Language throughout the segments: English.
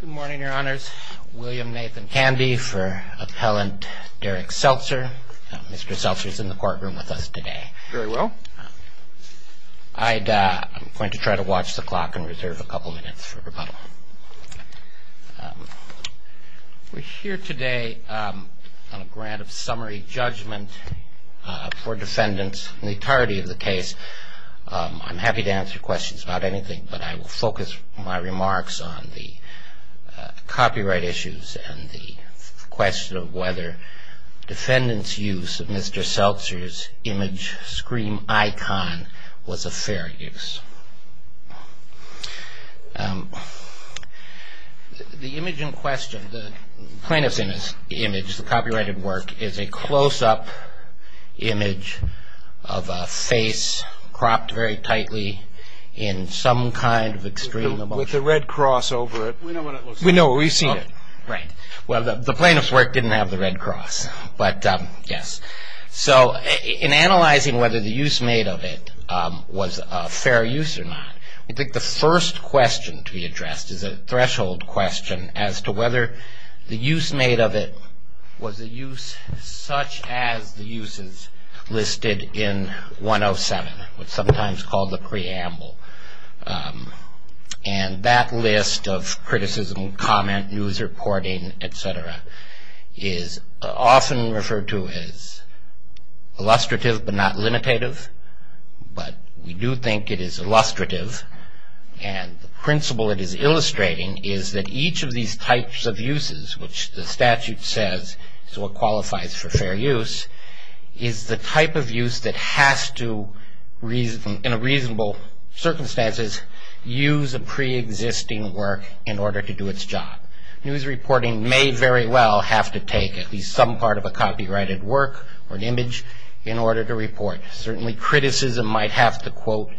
Good morning, Your Honors. William Nathan Candy for Appellant Dereck Seltzer. Mr. Seltzer is in the courtroom with us today. Very well. I'm going to try to watch the clock and reserve a couple minutes for rebuttal. We're here today on a grant of summary judgment for defendants in the entirety of the case. I'm happy to answer questions about anything, but I will focus my remarks on the copyright issues and the question of whether defendants' use of Mr. Seltzer's image scream icon was a fair use. The image in question, the plaintiff's image, the copyrighted work, is a close-up image of a face cropped very tightly in some kind of extreme emotion. With the red cross over it. We know what it looks like. We know. We've seen it. Right. Well, the plaintiff's work didn't have the red cross, but yes. So in analyzing whether the use made of it was a fair use or not, I think the first question to be addressed is a threshold question as to whether the use made of it was a use such as the uses listed in 107, what's sometimes called the preamble. And that list of criticism, comment, news reporting, et cetera, is often referred to as illustrative but not limitative, but we do think it is illustrative. And the principle it is illustrating is that each of these types of uses, which the statute says is what qualifies for fair use, is the type of use that has to, in reasonable circumstances, use a preexisting work in order to do its job. News reporting may very well have to take at least some part of a copyrighted work or an image in order to report. Certainly criticism might have to quote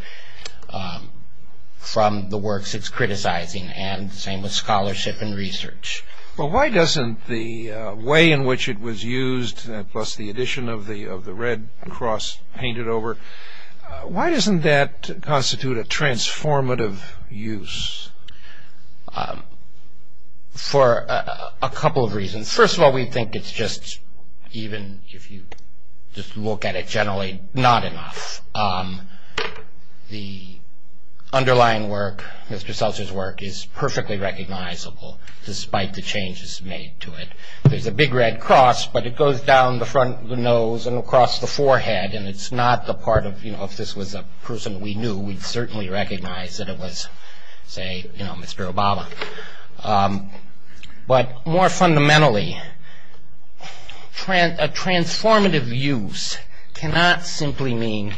from the works it's criticizing. And the same with scholarship and research. But why doesn't the way in which it was used, plus the addition of the red cross painted over, why doesn't that constitute a transformative use? For a couple of reasons. First of all, we think it's just, even if you just look at it generally, not enough. The underlying work, Mr. Seltzer's work, is perfectly recognizable despite the changes made to it. There's a big red cross, but it goes down the front of the nose and across the forehead, and it's not the part of, you know, if this was a person we knew, we'd certainly recognize that it was, say, you know, Mr. Obama. But more fundamentally, a transformative use cannot simply mean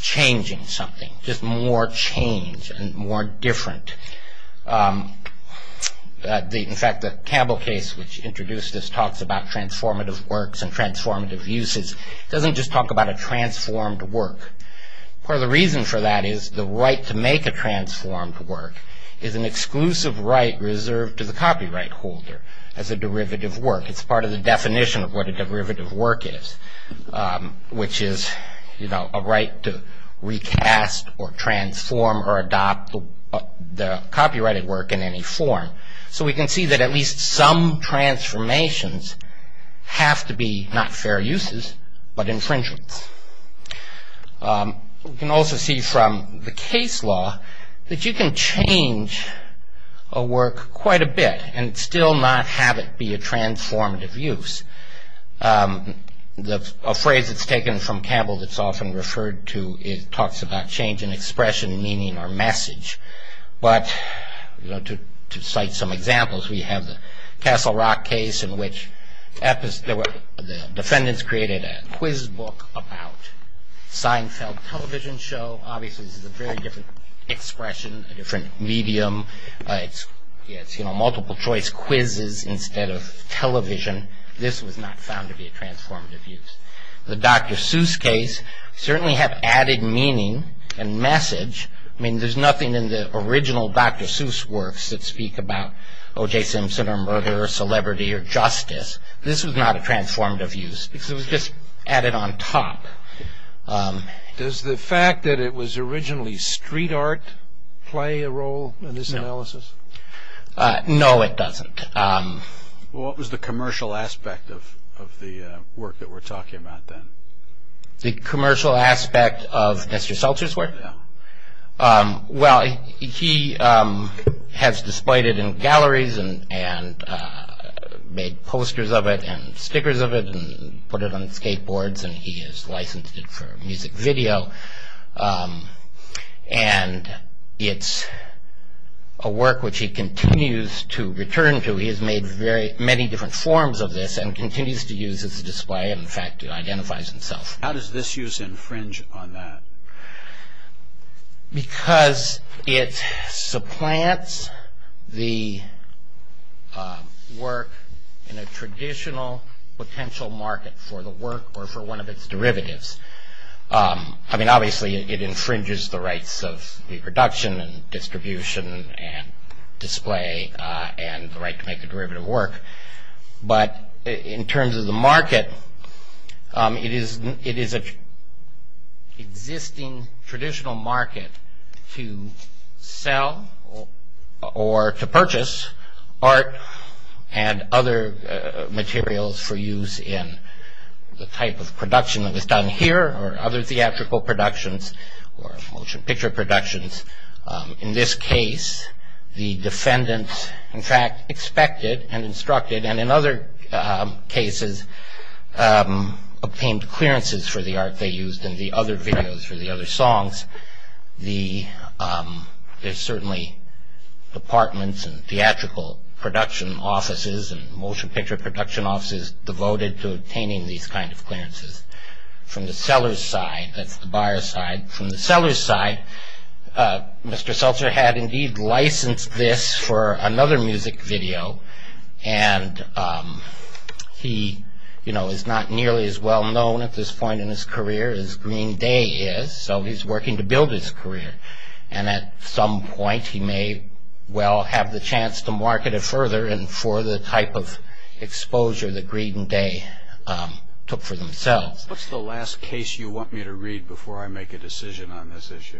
changing something, just more change and more different. In fact, the Campbell case which introduced this talks about transformative works and transformative uses doesn't just talk about a transformed work. Part of the reason for that is the right to make a transformed work is an exclusive right reserved to the copyright holder as a derivative work. It's part of the definition of what a derivative work is, which is, you know, a right to recast or transform or adopt the copyrighted work in any form. So we can see that at least some transformations have to be not fair uses, but infringements. We can also see from the case law that you can change a work quite a bit and still not have it be a transformative use. A phrase that's taken from Campbell that's often referred to, it talks about change in expression, meaning or message. But, you know, to cite some examples, we have the Castle Rock case in which the defendants created a quiz book about Seinfeld television show. Obviously, this is a very different expression, a different medium. It's, you know, multiple choice quizzes instead of television. This was not found to be a transformative use. The Dr. Seuss case certainly had added meaning and message. I mean, there's nothing in the original Dr. Seuss works that speak about O.J. Simpson or murder or celebrity or justice. This was not a transformative use because it was just added on top. Does the fact that it was originally street art play a role in this analysis? No, it doesn't. What was the commercial aspect of the work that we're talking about then? The commercial aspect of Mr. Seltzer's work? Well, he has displayed it in galleries and made posters of it and stickers of it and put it on skateboards and he has licensed it for music video. And it's a work which he continues to return to. He has made many different forms of this and continues to use it as a display. In fact, it identifies itself. How does this use infringe on that? Because it supplants the work in a traditional potential market for the work or for one of its derivatives. I mean, obviously, it infringes the rights of the production and distribution and display and the right to make the derivative work. But in terms of the market, it is an existing traditional market to sell or to purchase art and other materials for use in the type of production that is done here or other theatrical productions or motion picture productions. In this case, the defendants, in fact, expected and instructed and in other cases obtained clearances for the art they used in the other videos or the other songs. There's certainly departments and theatrical production offices and motion picture production offices devoted to obtaining these kind of clearances. From the seller's side, that's the buyer's side. From the seller's side, Mr. Seltzer had indeed licensed this for another music video. And he, you know, is not nearly as well-known at this point in his career as Green Day is. So he's working to build his career. And at some point, he may well have the chance to market it further and for the type of exposure that Green Day took for themselves. What's the last case you want me to read before I make a decision on this issue?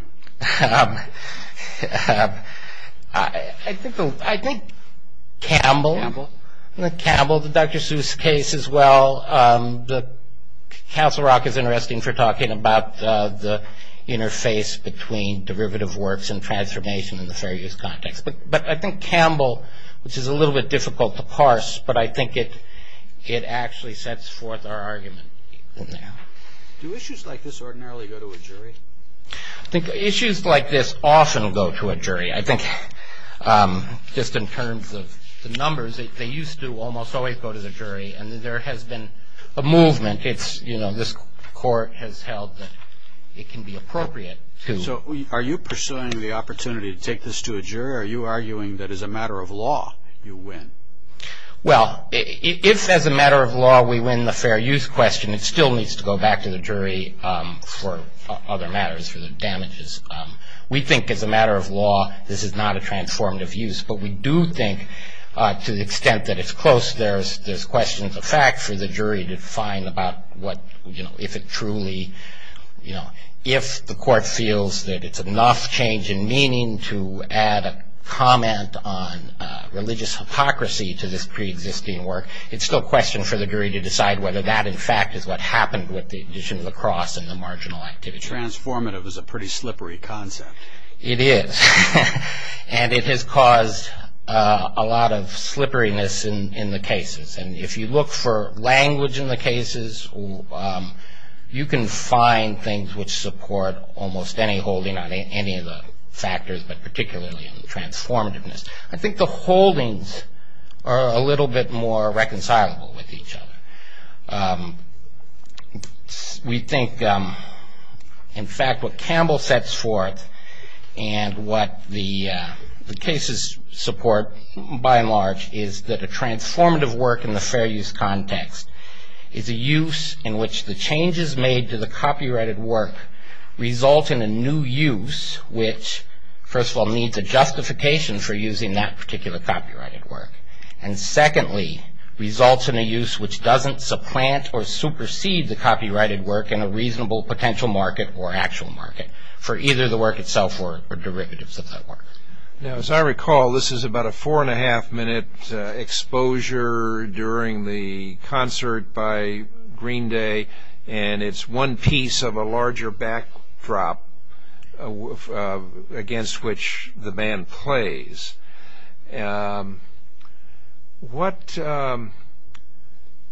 I think Campbell, the Dr. Seuss case as well, Castle Rock is interesting for talking about the interface between derivative works and transformation in the fair use context. But I think Campbell, which is a little bit difficult to parse, but I think it actually sets forth our argument in there. Do issues like this ordinarily go to a jury? I think issues like this often go to a jury. I think just in terms of the numbers, they used to almost always go to the jury. And there has been a movement. It's, you know, this court has held that it can be appropriate to. So are you pursuing the opportunity to take this to a jury, or are you arguing that as a matter of law, you win? Well, if as a matter of law, we win the fair use question, it still needs to go back to the jury for other matters, for the damages. We think as a matter of law, this is not a transformative use. But we do think to the extent that it's close, there's questions of fact for the jury to find about what, you know, if it truly, you know, if the court feels that it's enough change in meaning to add a comment on religious hypocrisy to this preexisting work, it's still a question for the jury to decide whether that, in fact, is what happened with the addition of the cross and the marginal activity. Transformative is a pretty slippery concept. It is. And it has caused a lot of slipperiness in the cases. And if you look for language in the cases, you can find things which support almost any holding on any of the factors, but particularly in the transformativeness. I think the holdings are a little bit more reconcilable with each other. We think, in fact, what Campbell sets forth and what the cases support, by and large, is that a transformative work in the fair use context is a use in which the changes made to the copyrighted work result in a new use which, first of all, needs a justification for using that particular copyrighted work. And secondly, results in a use which doesn't supplant or supersede the copyrighted work in a reasonable potential market or actual market for either the work itself or derivatives of that work. Now, as I recall, this is about a four and a half minute exposure during the concert by Green Day, and it's one piece of a larger backdrop against which the band plays. What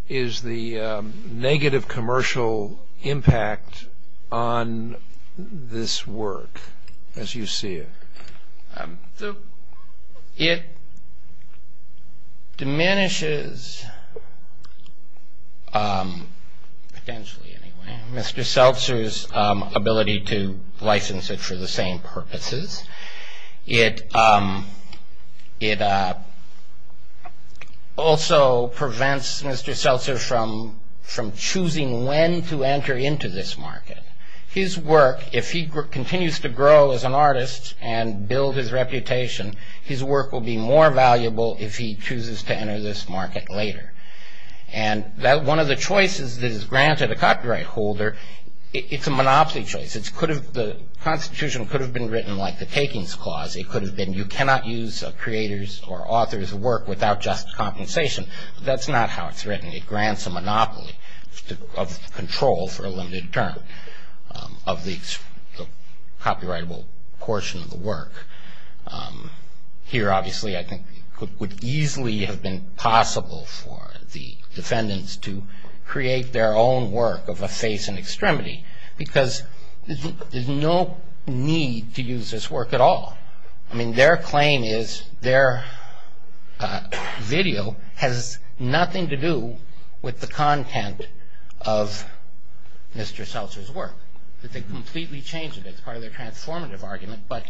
is the negative commercial impact on this work as you see it? It diminishes, potentially anyway, Mr. Seltzer's ability to license it for the same purposes. It also prevents Mr. Seltzer from choosing when to enter into this market. His work, if he continues to grow as an artist and build his reputation, his work will be more valuable if he chooses to enter this market later. And one of the choices that is granted a copyright holder, it's a monopoly choice. The Constitution could have been written like the Takings Clause. It could have been you cannot use a creator's or author's work without just compensation. That's not how it's written. It grants a monopoly of control for a limited term of the copyrightable portion of the work. Here, obviously, I think it would easily have been possible for the defendants to create their own work of a face and extremity because there's no need to use this work at all. I mean, their claim is their video has nothing to do with the content of Mr. Seltzer's work. They completely changed it. It's part of their transformative argument, but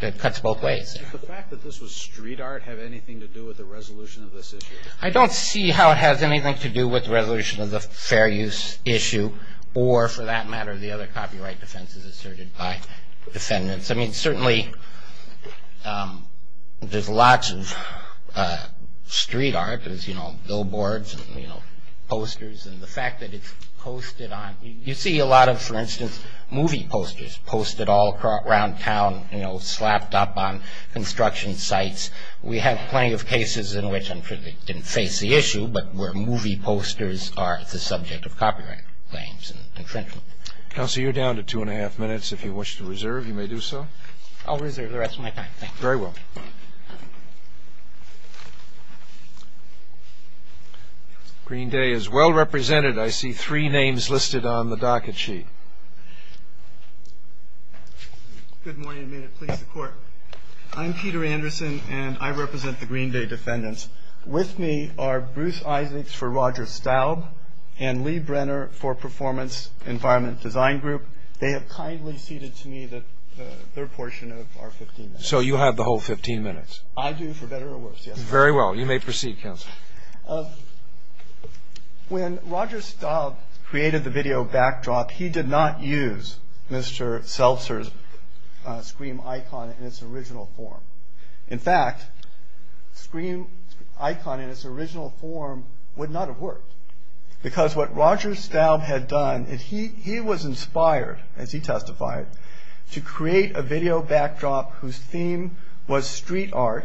it cuts both ways. Does the fact that this was street art have anything to do with the resolution of this issue? I don't see how it has anything to do with the resolution of the fair use issue or, for that matter, the other copyright defenses asserted by defendants. I mean, certainly, there's lots of street art. There's, you know, billboards and, you know, posters and the fact that it's posted on. You see a lot of, for instance, movie posters posted all around town, you know, slapped up on construction sites. We have plenty of cases in which, I'm sure they didn't face the issue, but where movie posters are the subject of copyright claims and infringement. Counselor, you're down to two and a half minutes. If you wish to reserve, you may do so. I'll reserve the rest of my time, thank you. Very well. Green Day is well represented. I see three names listed on the docket sheet. Good morning, and may it please the Court. I'm Peter Anderson, and I represent the Green Day defendants. With me are Bruce Isaacs for Roger Staub and Lee Brenner for Performance Environment Design Group. They have kindly ceded to me the third portion of our 15 minutes. So you have the whole 15 minutes? I do, for better or worse, yes. Very well. You may proceed, Counselor. When Roger Staub created the video backdrop, he did not use Mr. Seltzer's scream icon in its original form. In fact, scream icon in its original form would not have worked. Because what Roger Staub had done, and he was inspired, as he testified, to create a video backdrop whose theme was street art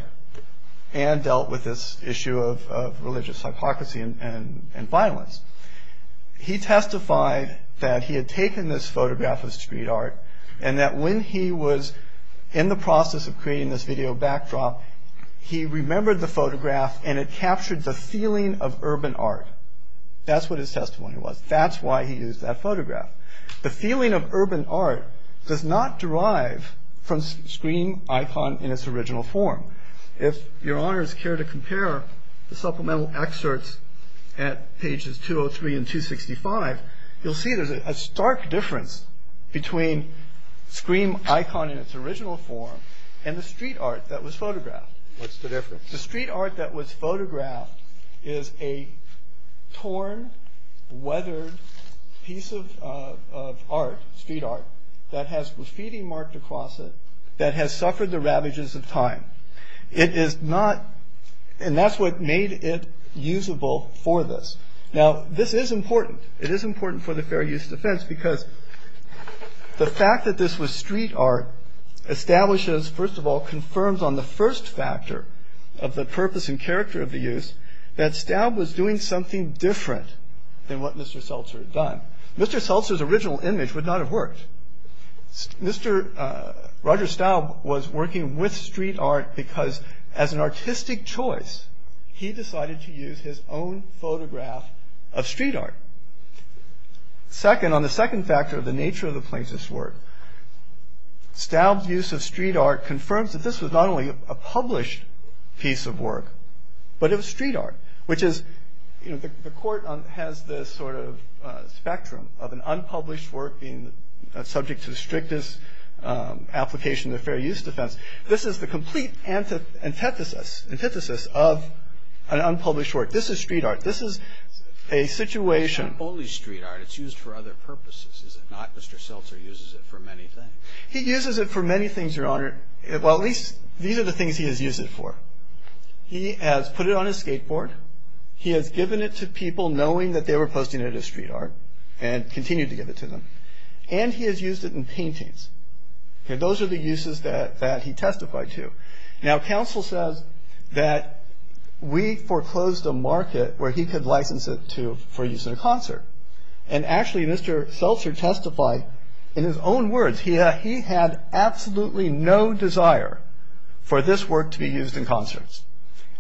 and dealt with this issue of religious hypocrisy and violence. He testified that he had taken this photograph of street art, and that when he was in the process of creating this video backdrop, he remembered the photograph, and it captured the feeling of urban art. That's what his testimony was. That's why he used that photograph. The feeling of urban art does not derive from scream icon in its original form. If your honors care to compare the supplemental excerpts at pages 203 and 265, you'll see there's a stark difference between scream icon in its original form and the street art that was photographed. What's the difference? The street art that was photographed is a torn, weathered piece of art, street art, that has graffiti marked across it that has suffered the ravages of time. It is not, and that's what made it usable for this. Now this is important. It is important for the fair use defense, because the fact that this was street art establishes, first of all, confirms on the first factor of the purpose and character of the use, that Staub was doing something different than what Mr. Seltzer had done. Mr. Seltzer's original image would not have worked. Mr. Roger Staub was working with street art because as an artistic choice, he decided to use his own photograph of street art. Second, on the second factor of the nature of the plaintiff's work, Staub's use of street art confirms that this was not only a published piece of work, but it was street art, which is, you know, the court has this sort of spectrum of an unpublished work being subject to the strictest application of the fair use defense. This is the complete antithesis of an unpublished work. This is street art. This is a situation. It's not only street art. It's used for other purposes, is it not? Mr. Seltzer uses it for many things. He uses it for many things, Your Honor. Well, at least these are the things he has used it for. He has put it on his skateboard. He has given it to people knowing that they were posting it as street art and continued to give it to them. And he has used it in paintings. And those are the uses that he testified to. Now, counsel says that we foreclosed a market where he could license it for use in a concert. And actually, Mr. Seltzer testified in his own words. He had absolutely no desire for this work to be used in concerts.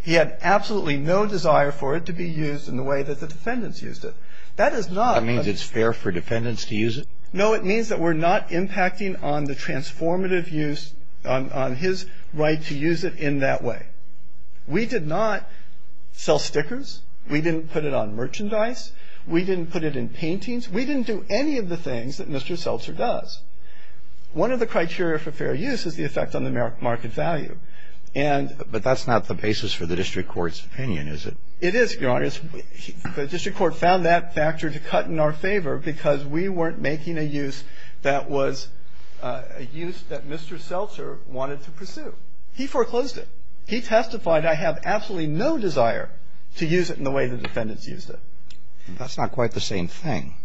He had absolutely no desire for it to be used in the way that the defendants used it. That is not- That means it's fair for defendants to use it? No, it means that we're not impacting on the transformative use, on his right to use it in that way. We did not sell stickers. We didn't put it on merchandise. We didn't put it in paintings. We didn't do any of the things that Mr. Seltzer does. One of the criteria for fair use is the effect on the market value. And- But that's not the basis for the district court's opinion, is it? It is, Your Honor. The district court found that factor to cut in our favor because we weren't making a use that was a use that Mr. Seltzer wanted to pursue. He foreclosed it. He testified, I have absolutely no desire to use it in the way the defendants used it. That's not quite the same thing.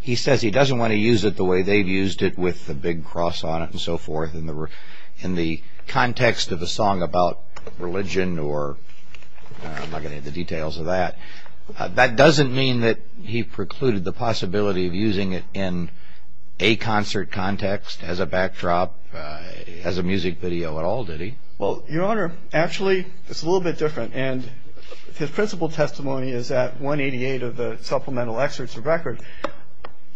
He says he doesn't want to use it the way they've used it with the big cross on it and so forth in the context of a song about religion or I'm not gonna get into the details of that. That doesn't mean that he precluded the possibility of using it in a concert context as a backdrop, as a music video at all, did he? Well, Your Honor, actually, it's a little bit different. And his principal testimony is at 188 of the supplemental excerpts of record.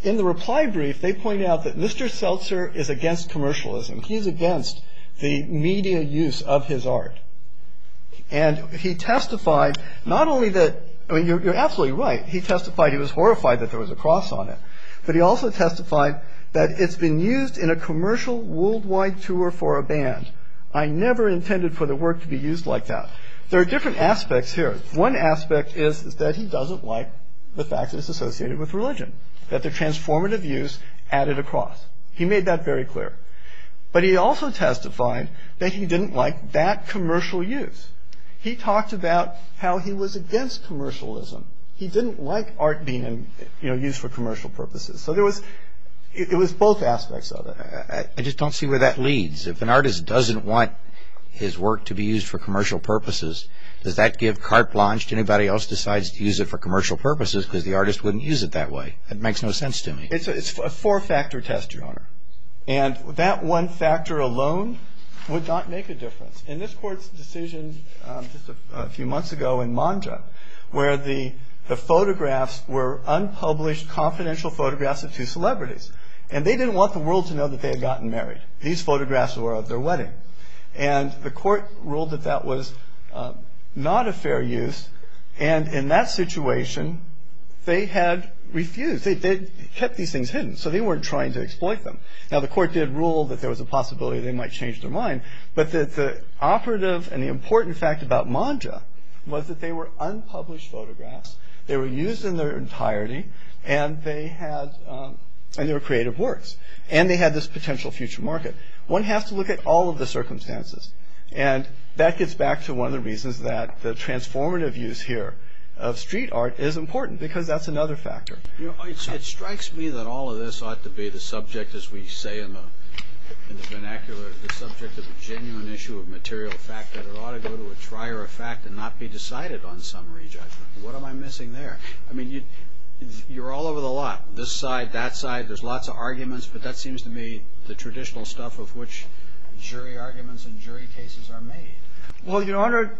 In the reply brief, they point out that Mr. Seltzer is against commercialism. He's against the media use of his art. And he testified not only that, I mean, you're absolutely right. He testified he was horrified that there was a cross on it. But he also testified that it's been used in a commercial worldwide tour for a band. I never intended for the work to be used like that. There are different aspects here. One aspect is that he doesn't like the fact that it's associated with religion, that the transformative use added a cross. He made that very clear. But he also testified that he didn't like that commercial use. He talked about how he was against commercialism. He didn't like art being used for commercial purposes. So it was both aspects of it. I just don't see where that leads. If an artist doesn't want his work to be used for commercial purposes, does that give carte blanche to anybody else decides to use it for commercial purposes because the artist wouldn't use it that way? It's a four-factor test, Your Honor. And that one factor alone would not make a difference. In this court's decision just a few months ago in Manja, where the photographs were unpublished confidential photographs of two celebrities. And they didn't want the world to know that they had gotten married. These photographs were of their wedding. And the court ruled that that was not a fair use. And in that situation, they had refused. They kept these things hidden. So they weren't trying to exploit them. Now the court did rule that there was a possibility they might change their mind. But the operative and the important fact about Manja was that they were unpublished photographs. They were used in their entirety and they were creative works. And they had this potential future market. One has to look at all of the circumstances. And that gets back to one of the reasons that the transformative use here of street art is important because that's another factor. It strikes me that all of this ought to be the subject, as we say in the vernacular, the subject of a genuine issue of material fact. That it ought to go to a trier of fact and not be decided on summary judgment. What am I missing there? I mean, you're all over the lot. This side, that side, there's lots of arguments. But that seems to me the traditional stuff of which jury arguments and jury cases are made. Well, Your Honor,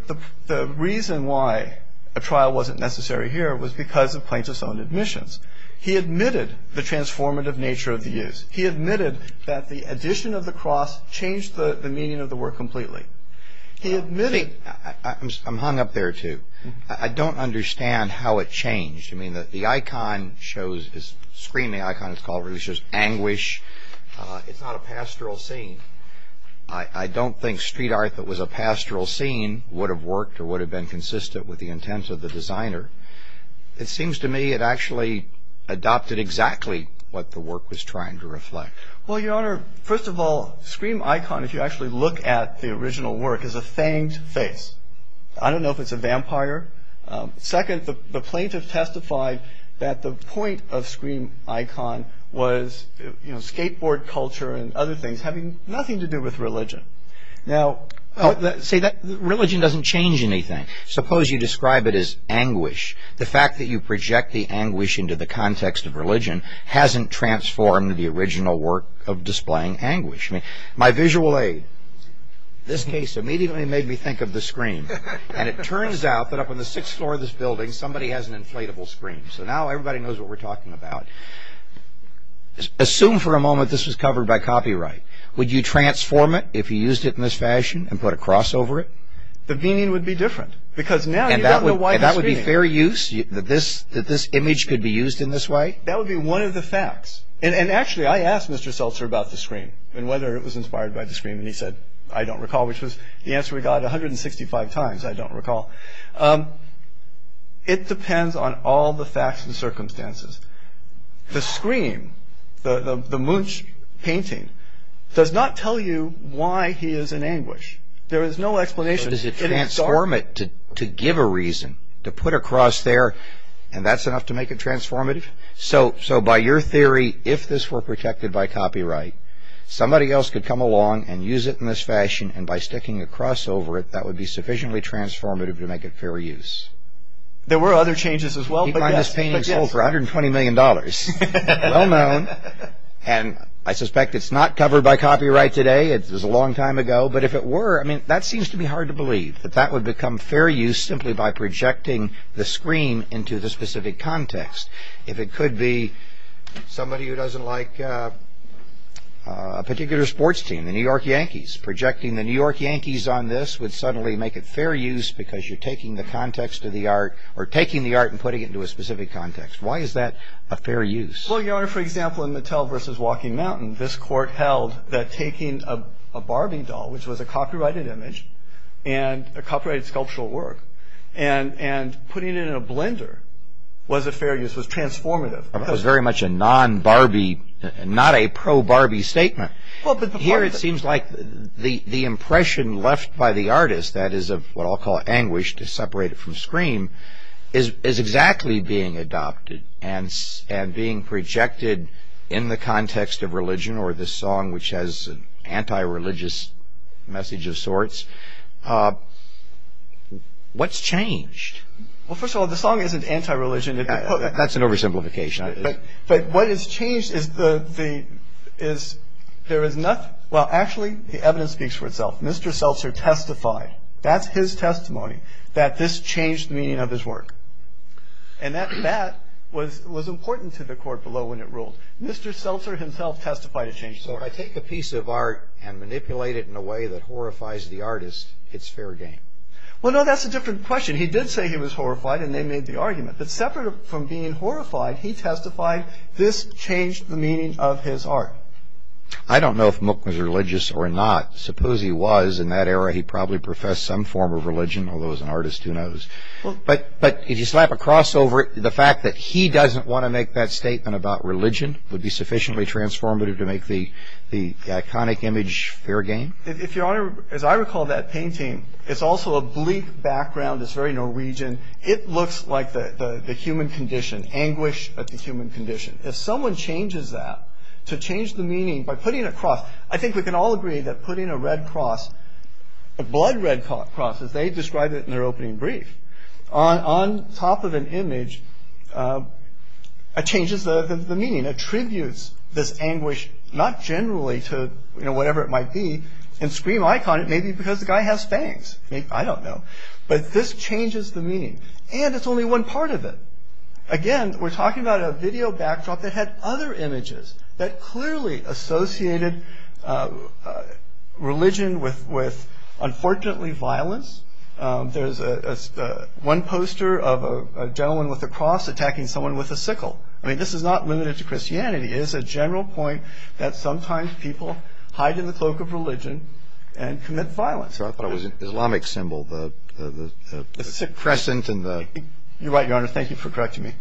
the reason why a trial wasn't necessary here was because of Plaintiff's own admissions. He admitted the transformative nature of the use. He admitted that the addition of the cross changed the meaning of the work completely. He admitted- I'm hung up there, too. I don't understand how it changed. I mean, the icon shows, this screaming icon, it's called, it's just anguish. It's not a pastoral scene. I don't think street art that was a pastoral scene would have worked or would have been consistent with the intent of the designer. It seems to me it actually adopted exactly what the work was trying to reflect. Well, Your Honor, first of all, scream icon, if you actually look at the original work, is a fanged face. I don't know if it's a vampire. Second, the plaintiff testified that the point of scream icon was skateboard culture and other things having nothing to do with religion. Now, religion doesn't change anything. Suppose you describe it as anguish. The fact that you project the anguish into the context of religion hasn't transformed the original work of displaying anguish. My visual aid, this case, immediately made me think of the scream. And it turns out that up on the sixth floor of this building, somebody has an inflatable scream. So now everybody knows what we're talking about. Assume for a moment this was covered by copyright. Would you transform it if you used it in this fashion and put a cross over it? The meaning would be different. Because now you don't know why the scream. And that would be fair use, that this image could be used in this way? That would be one of the facts. And actually, I asked Mr. Seltzer about the scream and whether it was inspired by the scream. And he said, I don't recall, which was the answer we got 165 times, I don't recall. It depends on all the facts and circumstances. The scream, the Munch painting, does not tell you why he is in anguish. There is no explanation. Does it transform it to give a reason? To put a cross there, and that's enough to make it transformative? So by your theory, if this were protected by copyright, somebody else could come along and use it in this fashion. And by sticking a cross over it, that would be sufficiently transformative to make it fair use. There were other changes as well, but yes. He found this painting sold for $120 million, well known. And I suspect it's not covered by copyright today, it was a long time ago. But if it were, I mean, that seems to be hard to believe, that that would become fair use simply by projecting the scream into the specific context. If it could be somebody who doesn't like a particular sports team, the New York Yankees, projecting the New York Yankees on this would suddenly make it fair use because you're taking the context of the art, or taking the art and putting it into a specific context. Why is that a fair use? Well, Your Honor, for example, in Mattel versus Walking Mountain, this court held that taking a Barbie doll, which was a copyrighted image, and a copyrighted sculptural work, and putting it in a blender, was a fair use, was transformative. That was very much a non-Barbie, not a pro-Barbie statement. Well, but the part of the- Here it seems like the impression left by the artist, that is of what I'll call anguish to separate it from scream, is exactly being adopted and being projected in the context of religion, or the song, which has an anti-religious message of sorts. What's changed? Well, first of all, the song isn't anti-religion. That's an oversimplification. But what has changed is there is nothing, well, actually the evidence speaks for itself, Mr. Seltzer testified, that's his testimony, that this changed the meaning of his work. And that was important to the court below when it ruled. Mr. Seltzer himself testified it changed. So if I take a piece of art and manipulate it in a way that horrifies the artist, it's fair game. Well, no, that's a different question. He did say he was horrified, and they made the argument. But separate from being horrified, he testified this changed the meaning of his art. I don't know if Mook was religious or not. Suppose he was. In that era, he probably professed some form of religion, although as an artist, who knows? But if you slap a cross over it, the fact that he doesn't want to make that statement about religion would be sufficiently transformative to make the iconic image fair game? If Your Honor, as I recall that painting, it's also a bleak background. It's very Norwegian. It looks like the human condition, anguish at the human condition. If someone changes that, to change the meaning by putting a cross, I think we can all agree that putting a red cross, a blood red cross, as they described it in their opening brief, on top of an image changes the meaning. Attributes this anguish, not generally to whatever it might be, in Scream Icon, it may be because the guy has fangs. I don't know. But this changes the meaning, and it's only one part of it. Again, we're talking about a video backdrop that had other images that clearly associated religion with, unfortunately, violence. There's one poster of a gentleman with a cross attacking someone with a sickle. I mean, this is not limited to Christianity. It is a general point that sometimes people hide in the cloak of religion and commit violence. So I thought it was an Islamic symbol, the crescent and the- You're right, Your Honor. Thank you for correcting me.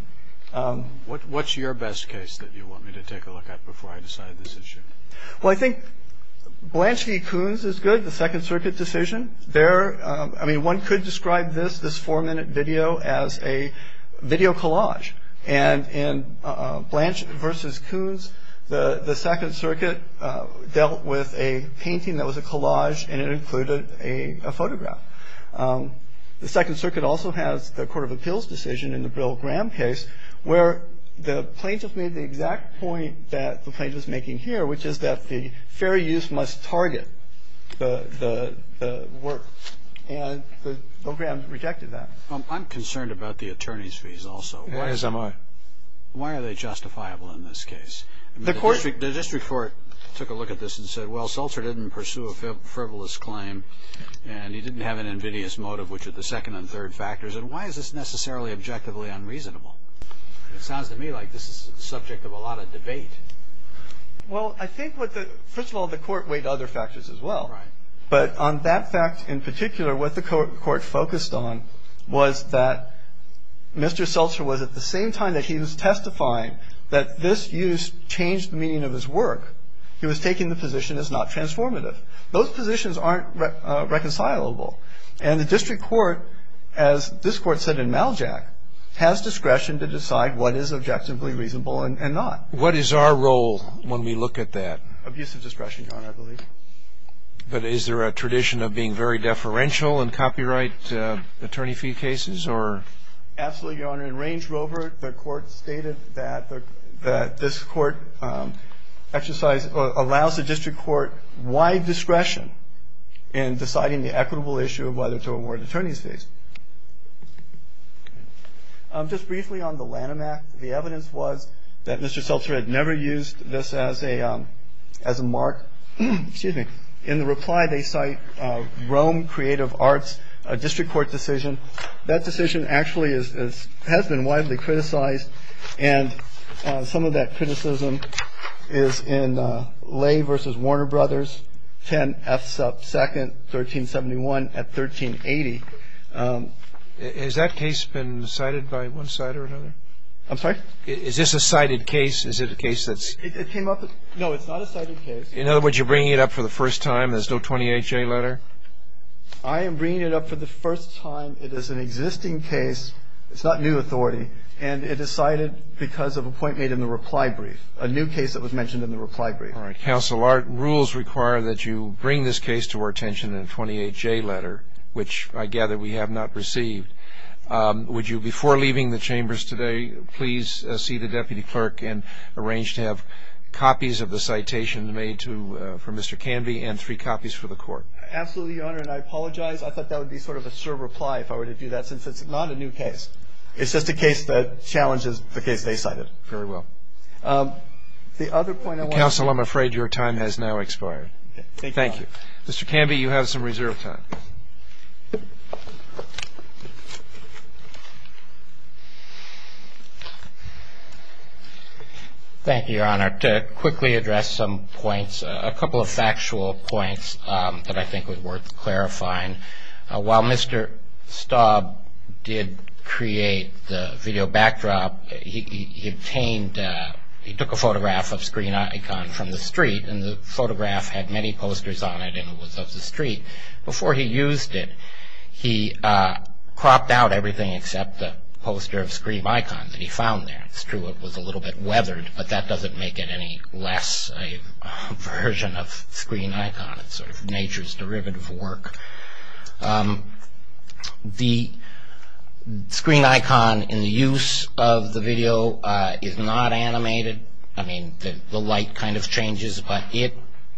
What's your best case that you want me to take a look at before I decide this issue? Well, I think Blansky-Kuhn's is good, the Second Circuit decision. There, I mean, one could describe this, this four-minute video, as a video collage. And in Blansky versus Kuhn's, the Second Circuit dealt with a painting that was a collage, and it included a photograph. The Second Circuit also has the Court of Appeals decision in the Bill Graham case, where the plaintiff made the exact point that the plaintiff's making here, which is that the fair use must target the work. And Bill Graham rejected that. I'm concerned about the attorney's fees also. Why are they justifiable in this case? The district court took a look at this and said, well, they didn't have an invidious motive, which are the second and third factors. And why is this necessarily objectively unreasonable? It sounds to me like this is the subject of a lot of debate. Well, I think what the, first of all, the court weighed other factors as well. Right. But on that fact in particular, what the court focused on was that Mr. Seltzer was at the same time that he was testifying that this use changed the meaning of his work, he was taking the position as not transformative. Those positions aren't reconcilable. And the district court, as this court said in Maljack, has discretion to decide what is objectively reasonable and not. What is our role when we look at that? Abusive discretion, Your Honor, I believe. But is there a tradition of being very deferential in copyright attorney fee cases, or? Absolutely, Your Honor. In Range Rover, the court stated that this court exercise allows the district court wide discretion in deciding the equitable issue of whether to award attorney's fees. Just briefly on the Lanham Act, the evidence was that Mr. Seltzer had never used this as a mark. Excuse me. In the reply, they cite Rome Creative Arts, a district court decision. That decision actually has been widely criticized. And some of that criticism is in Lay v. Warner Brothers, 10 F 2nd, 1371 at 1380. Has that case been cited by one side or another? I'm sorry? Is this a cited case? Is it a case that's? It came up. No, it's not a cited case. In other words, you're bringing it up for the first time. There's no 28-J letter. I am bringing it up for the first time. It is an existing case. It's not new authority. And it is cited because of a point made in the reply brief, a new case that was mentioned in the reply brief. All right, counsel. Our rules require that you bring this case to our attention in a 28-J letter, which I gather we have not received. Would you, before leaving the chambers today, please see the deputy clerk and arrange to have copies of the citation made to, for Mr. Canby, and three copies for the court? Absolutely, your honor, and I apologize. I thought that would be sort of a sure reply if I were to do that, since it's not a new case. It's just a case that challenges the case they cited. Very well. The other point I want to- Counsel, I'm afraid your time has now expired. Thank you. Mr. Canby, you have some reserve time. Thank you, your honor. To quickly address some points, a couple of factual points that I think were worth clarifying, while Mr. Staub did create the video backdrop, he obtained, he took a photograph of Screen Icon from the street. And the photograph had many posters on it, and it was of the street. Before he used it, he cropped out everything except the poster of Screen Icon that he found there. It's true, it was a little bit weathered, but that doesn't make it any less a version of Screen Icon. It's sort of nature's derivative work. The Screen Icon, in the use of the video, is not animated. I mean, the light kind of changes, but it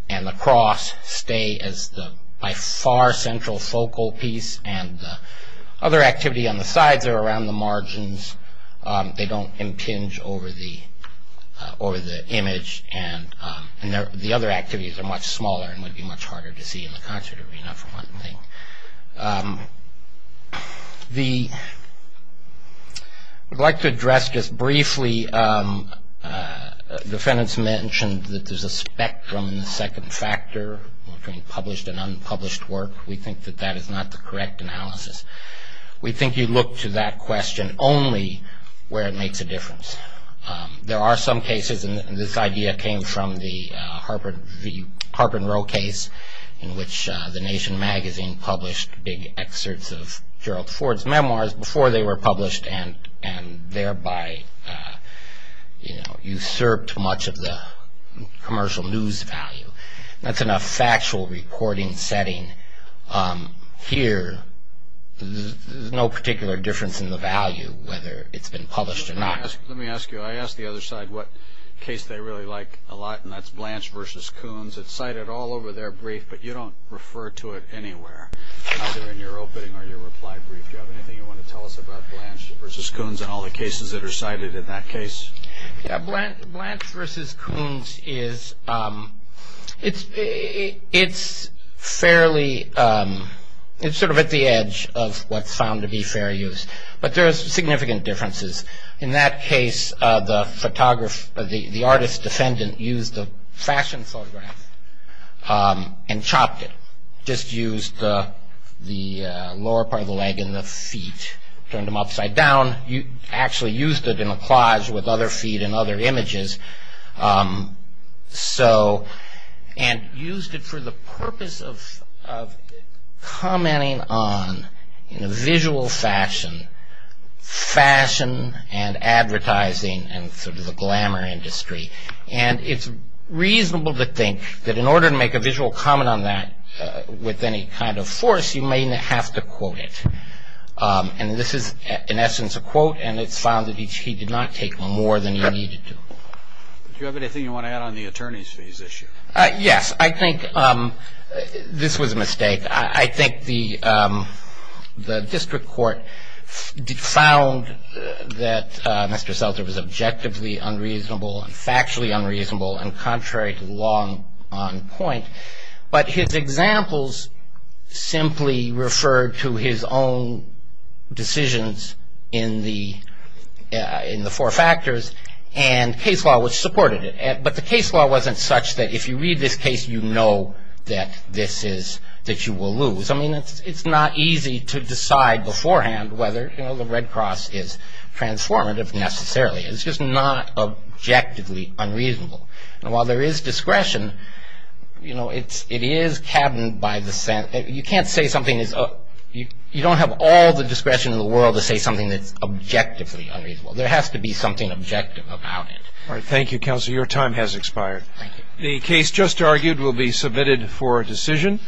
and the cross stay as the by far central focal piece. And the other activity on the sides are around the margins. They don't impinge over the image. And the other activities are much smaller and would be much harder to see in the concert arena, for one thing. I'd like to address just briefly, defendants mentioned that there's a spectrum in the second factor, between published and unpublished work. We think that that is not the correct analysis. We think you look to that question only where it makes a difference. There are some cases, and this idea came from the Harper and Row case, in which the Nation Magazine published big excerpts of Gerald Ford's memoirs before they were published, and thereby usurped much of the commercial news value. That's in a factual recording setting. Here, there's no particular difference in the value, whether it's been published or not. I asked the other side what case they really like a lot, and that's Blanche versus Coons. It's cited all over their brief, but you don't refer to it anywhere, either in your opening or your reply brief. Do you have anything you want to tell us about Blanche versus Coons and all the cases that are cited in that case? Yeah, Blanche versus Coons, it's fairly, it's sort of at the edge of what's found to be fair use. But there's significant differences. In that case, the artist's defendant used a fashion photograph and chopped it. Just used the lower part of the leg and the feet, turned them upside down. You actually used it in a collage with other feet and other images. And used it for the purpose of commenting on, in a visual fashion, fashion and advertising and sort of the glamour industry. And it's reasonable to think that in order to make a visual comment on that with any kind of force, you may have to quote it. And this is, in essence, a quote, and it's found that he did not take more than he needed to. Do you have anything you want to add on the attorney's fees issue? Yes, I think this was a mistake. I think the district court found that Mr. Seltzer was objectively unreasonable and factually unreasonable and contrary to the law on point. But his examples simply referred to his own decisions in the four factors and case law which supported it. But the case law wasn't such that if you read this case, you know that this is, that you will lose. I mean, it's not easy to decide beforehand whether the Red Cross is transformative necessarily. It's just not objectively unreasonable. And while there is discretion, it is cabined by the sense that you can't say something is, you don't have all the discretion in the world to say something that's objectively unreasonable. There has to be something objective about it. All right, thank you, Counselor. Your time has expired. Thank you. The case just argued will be submitted for decision.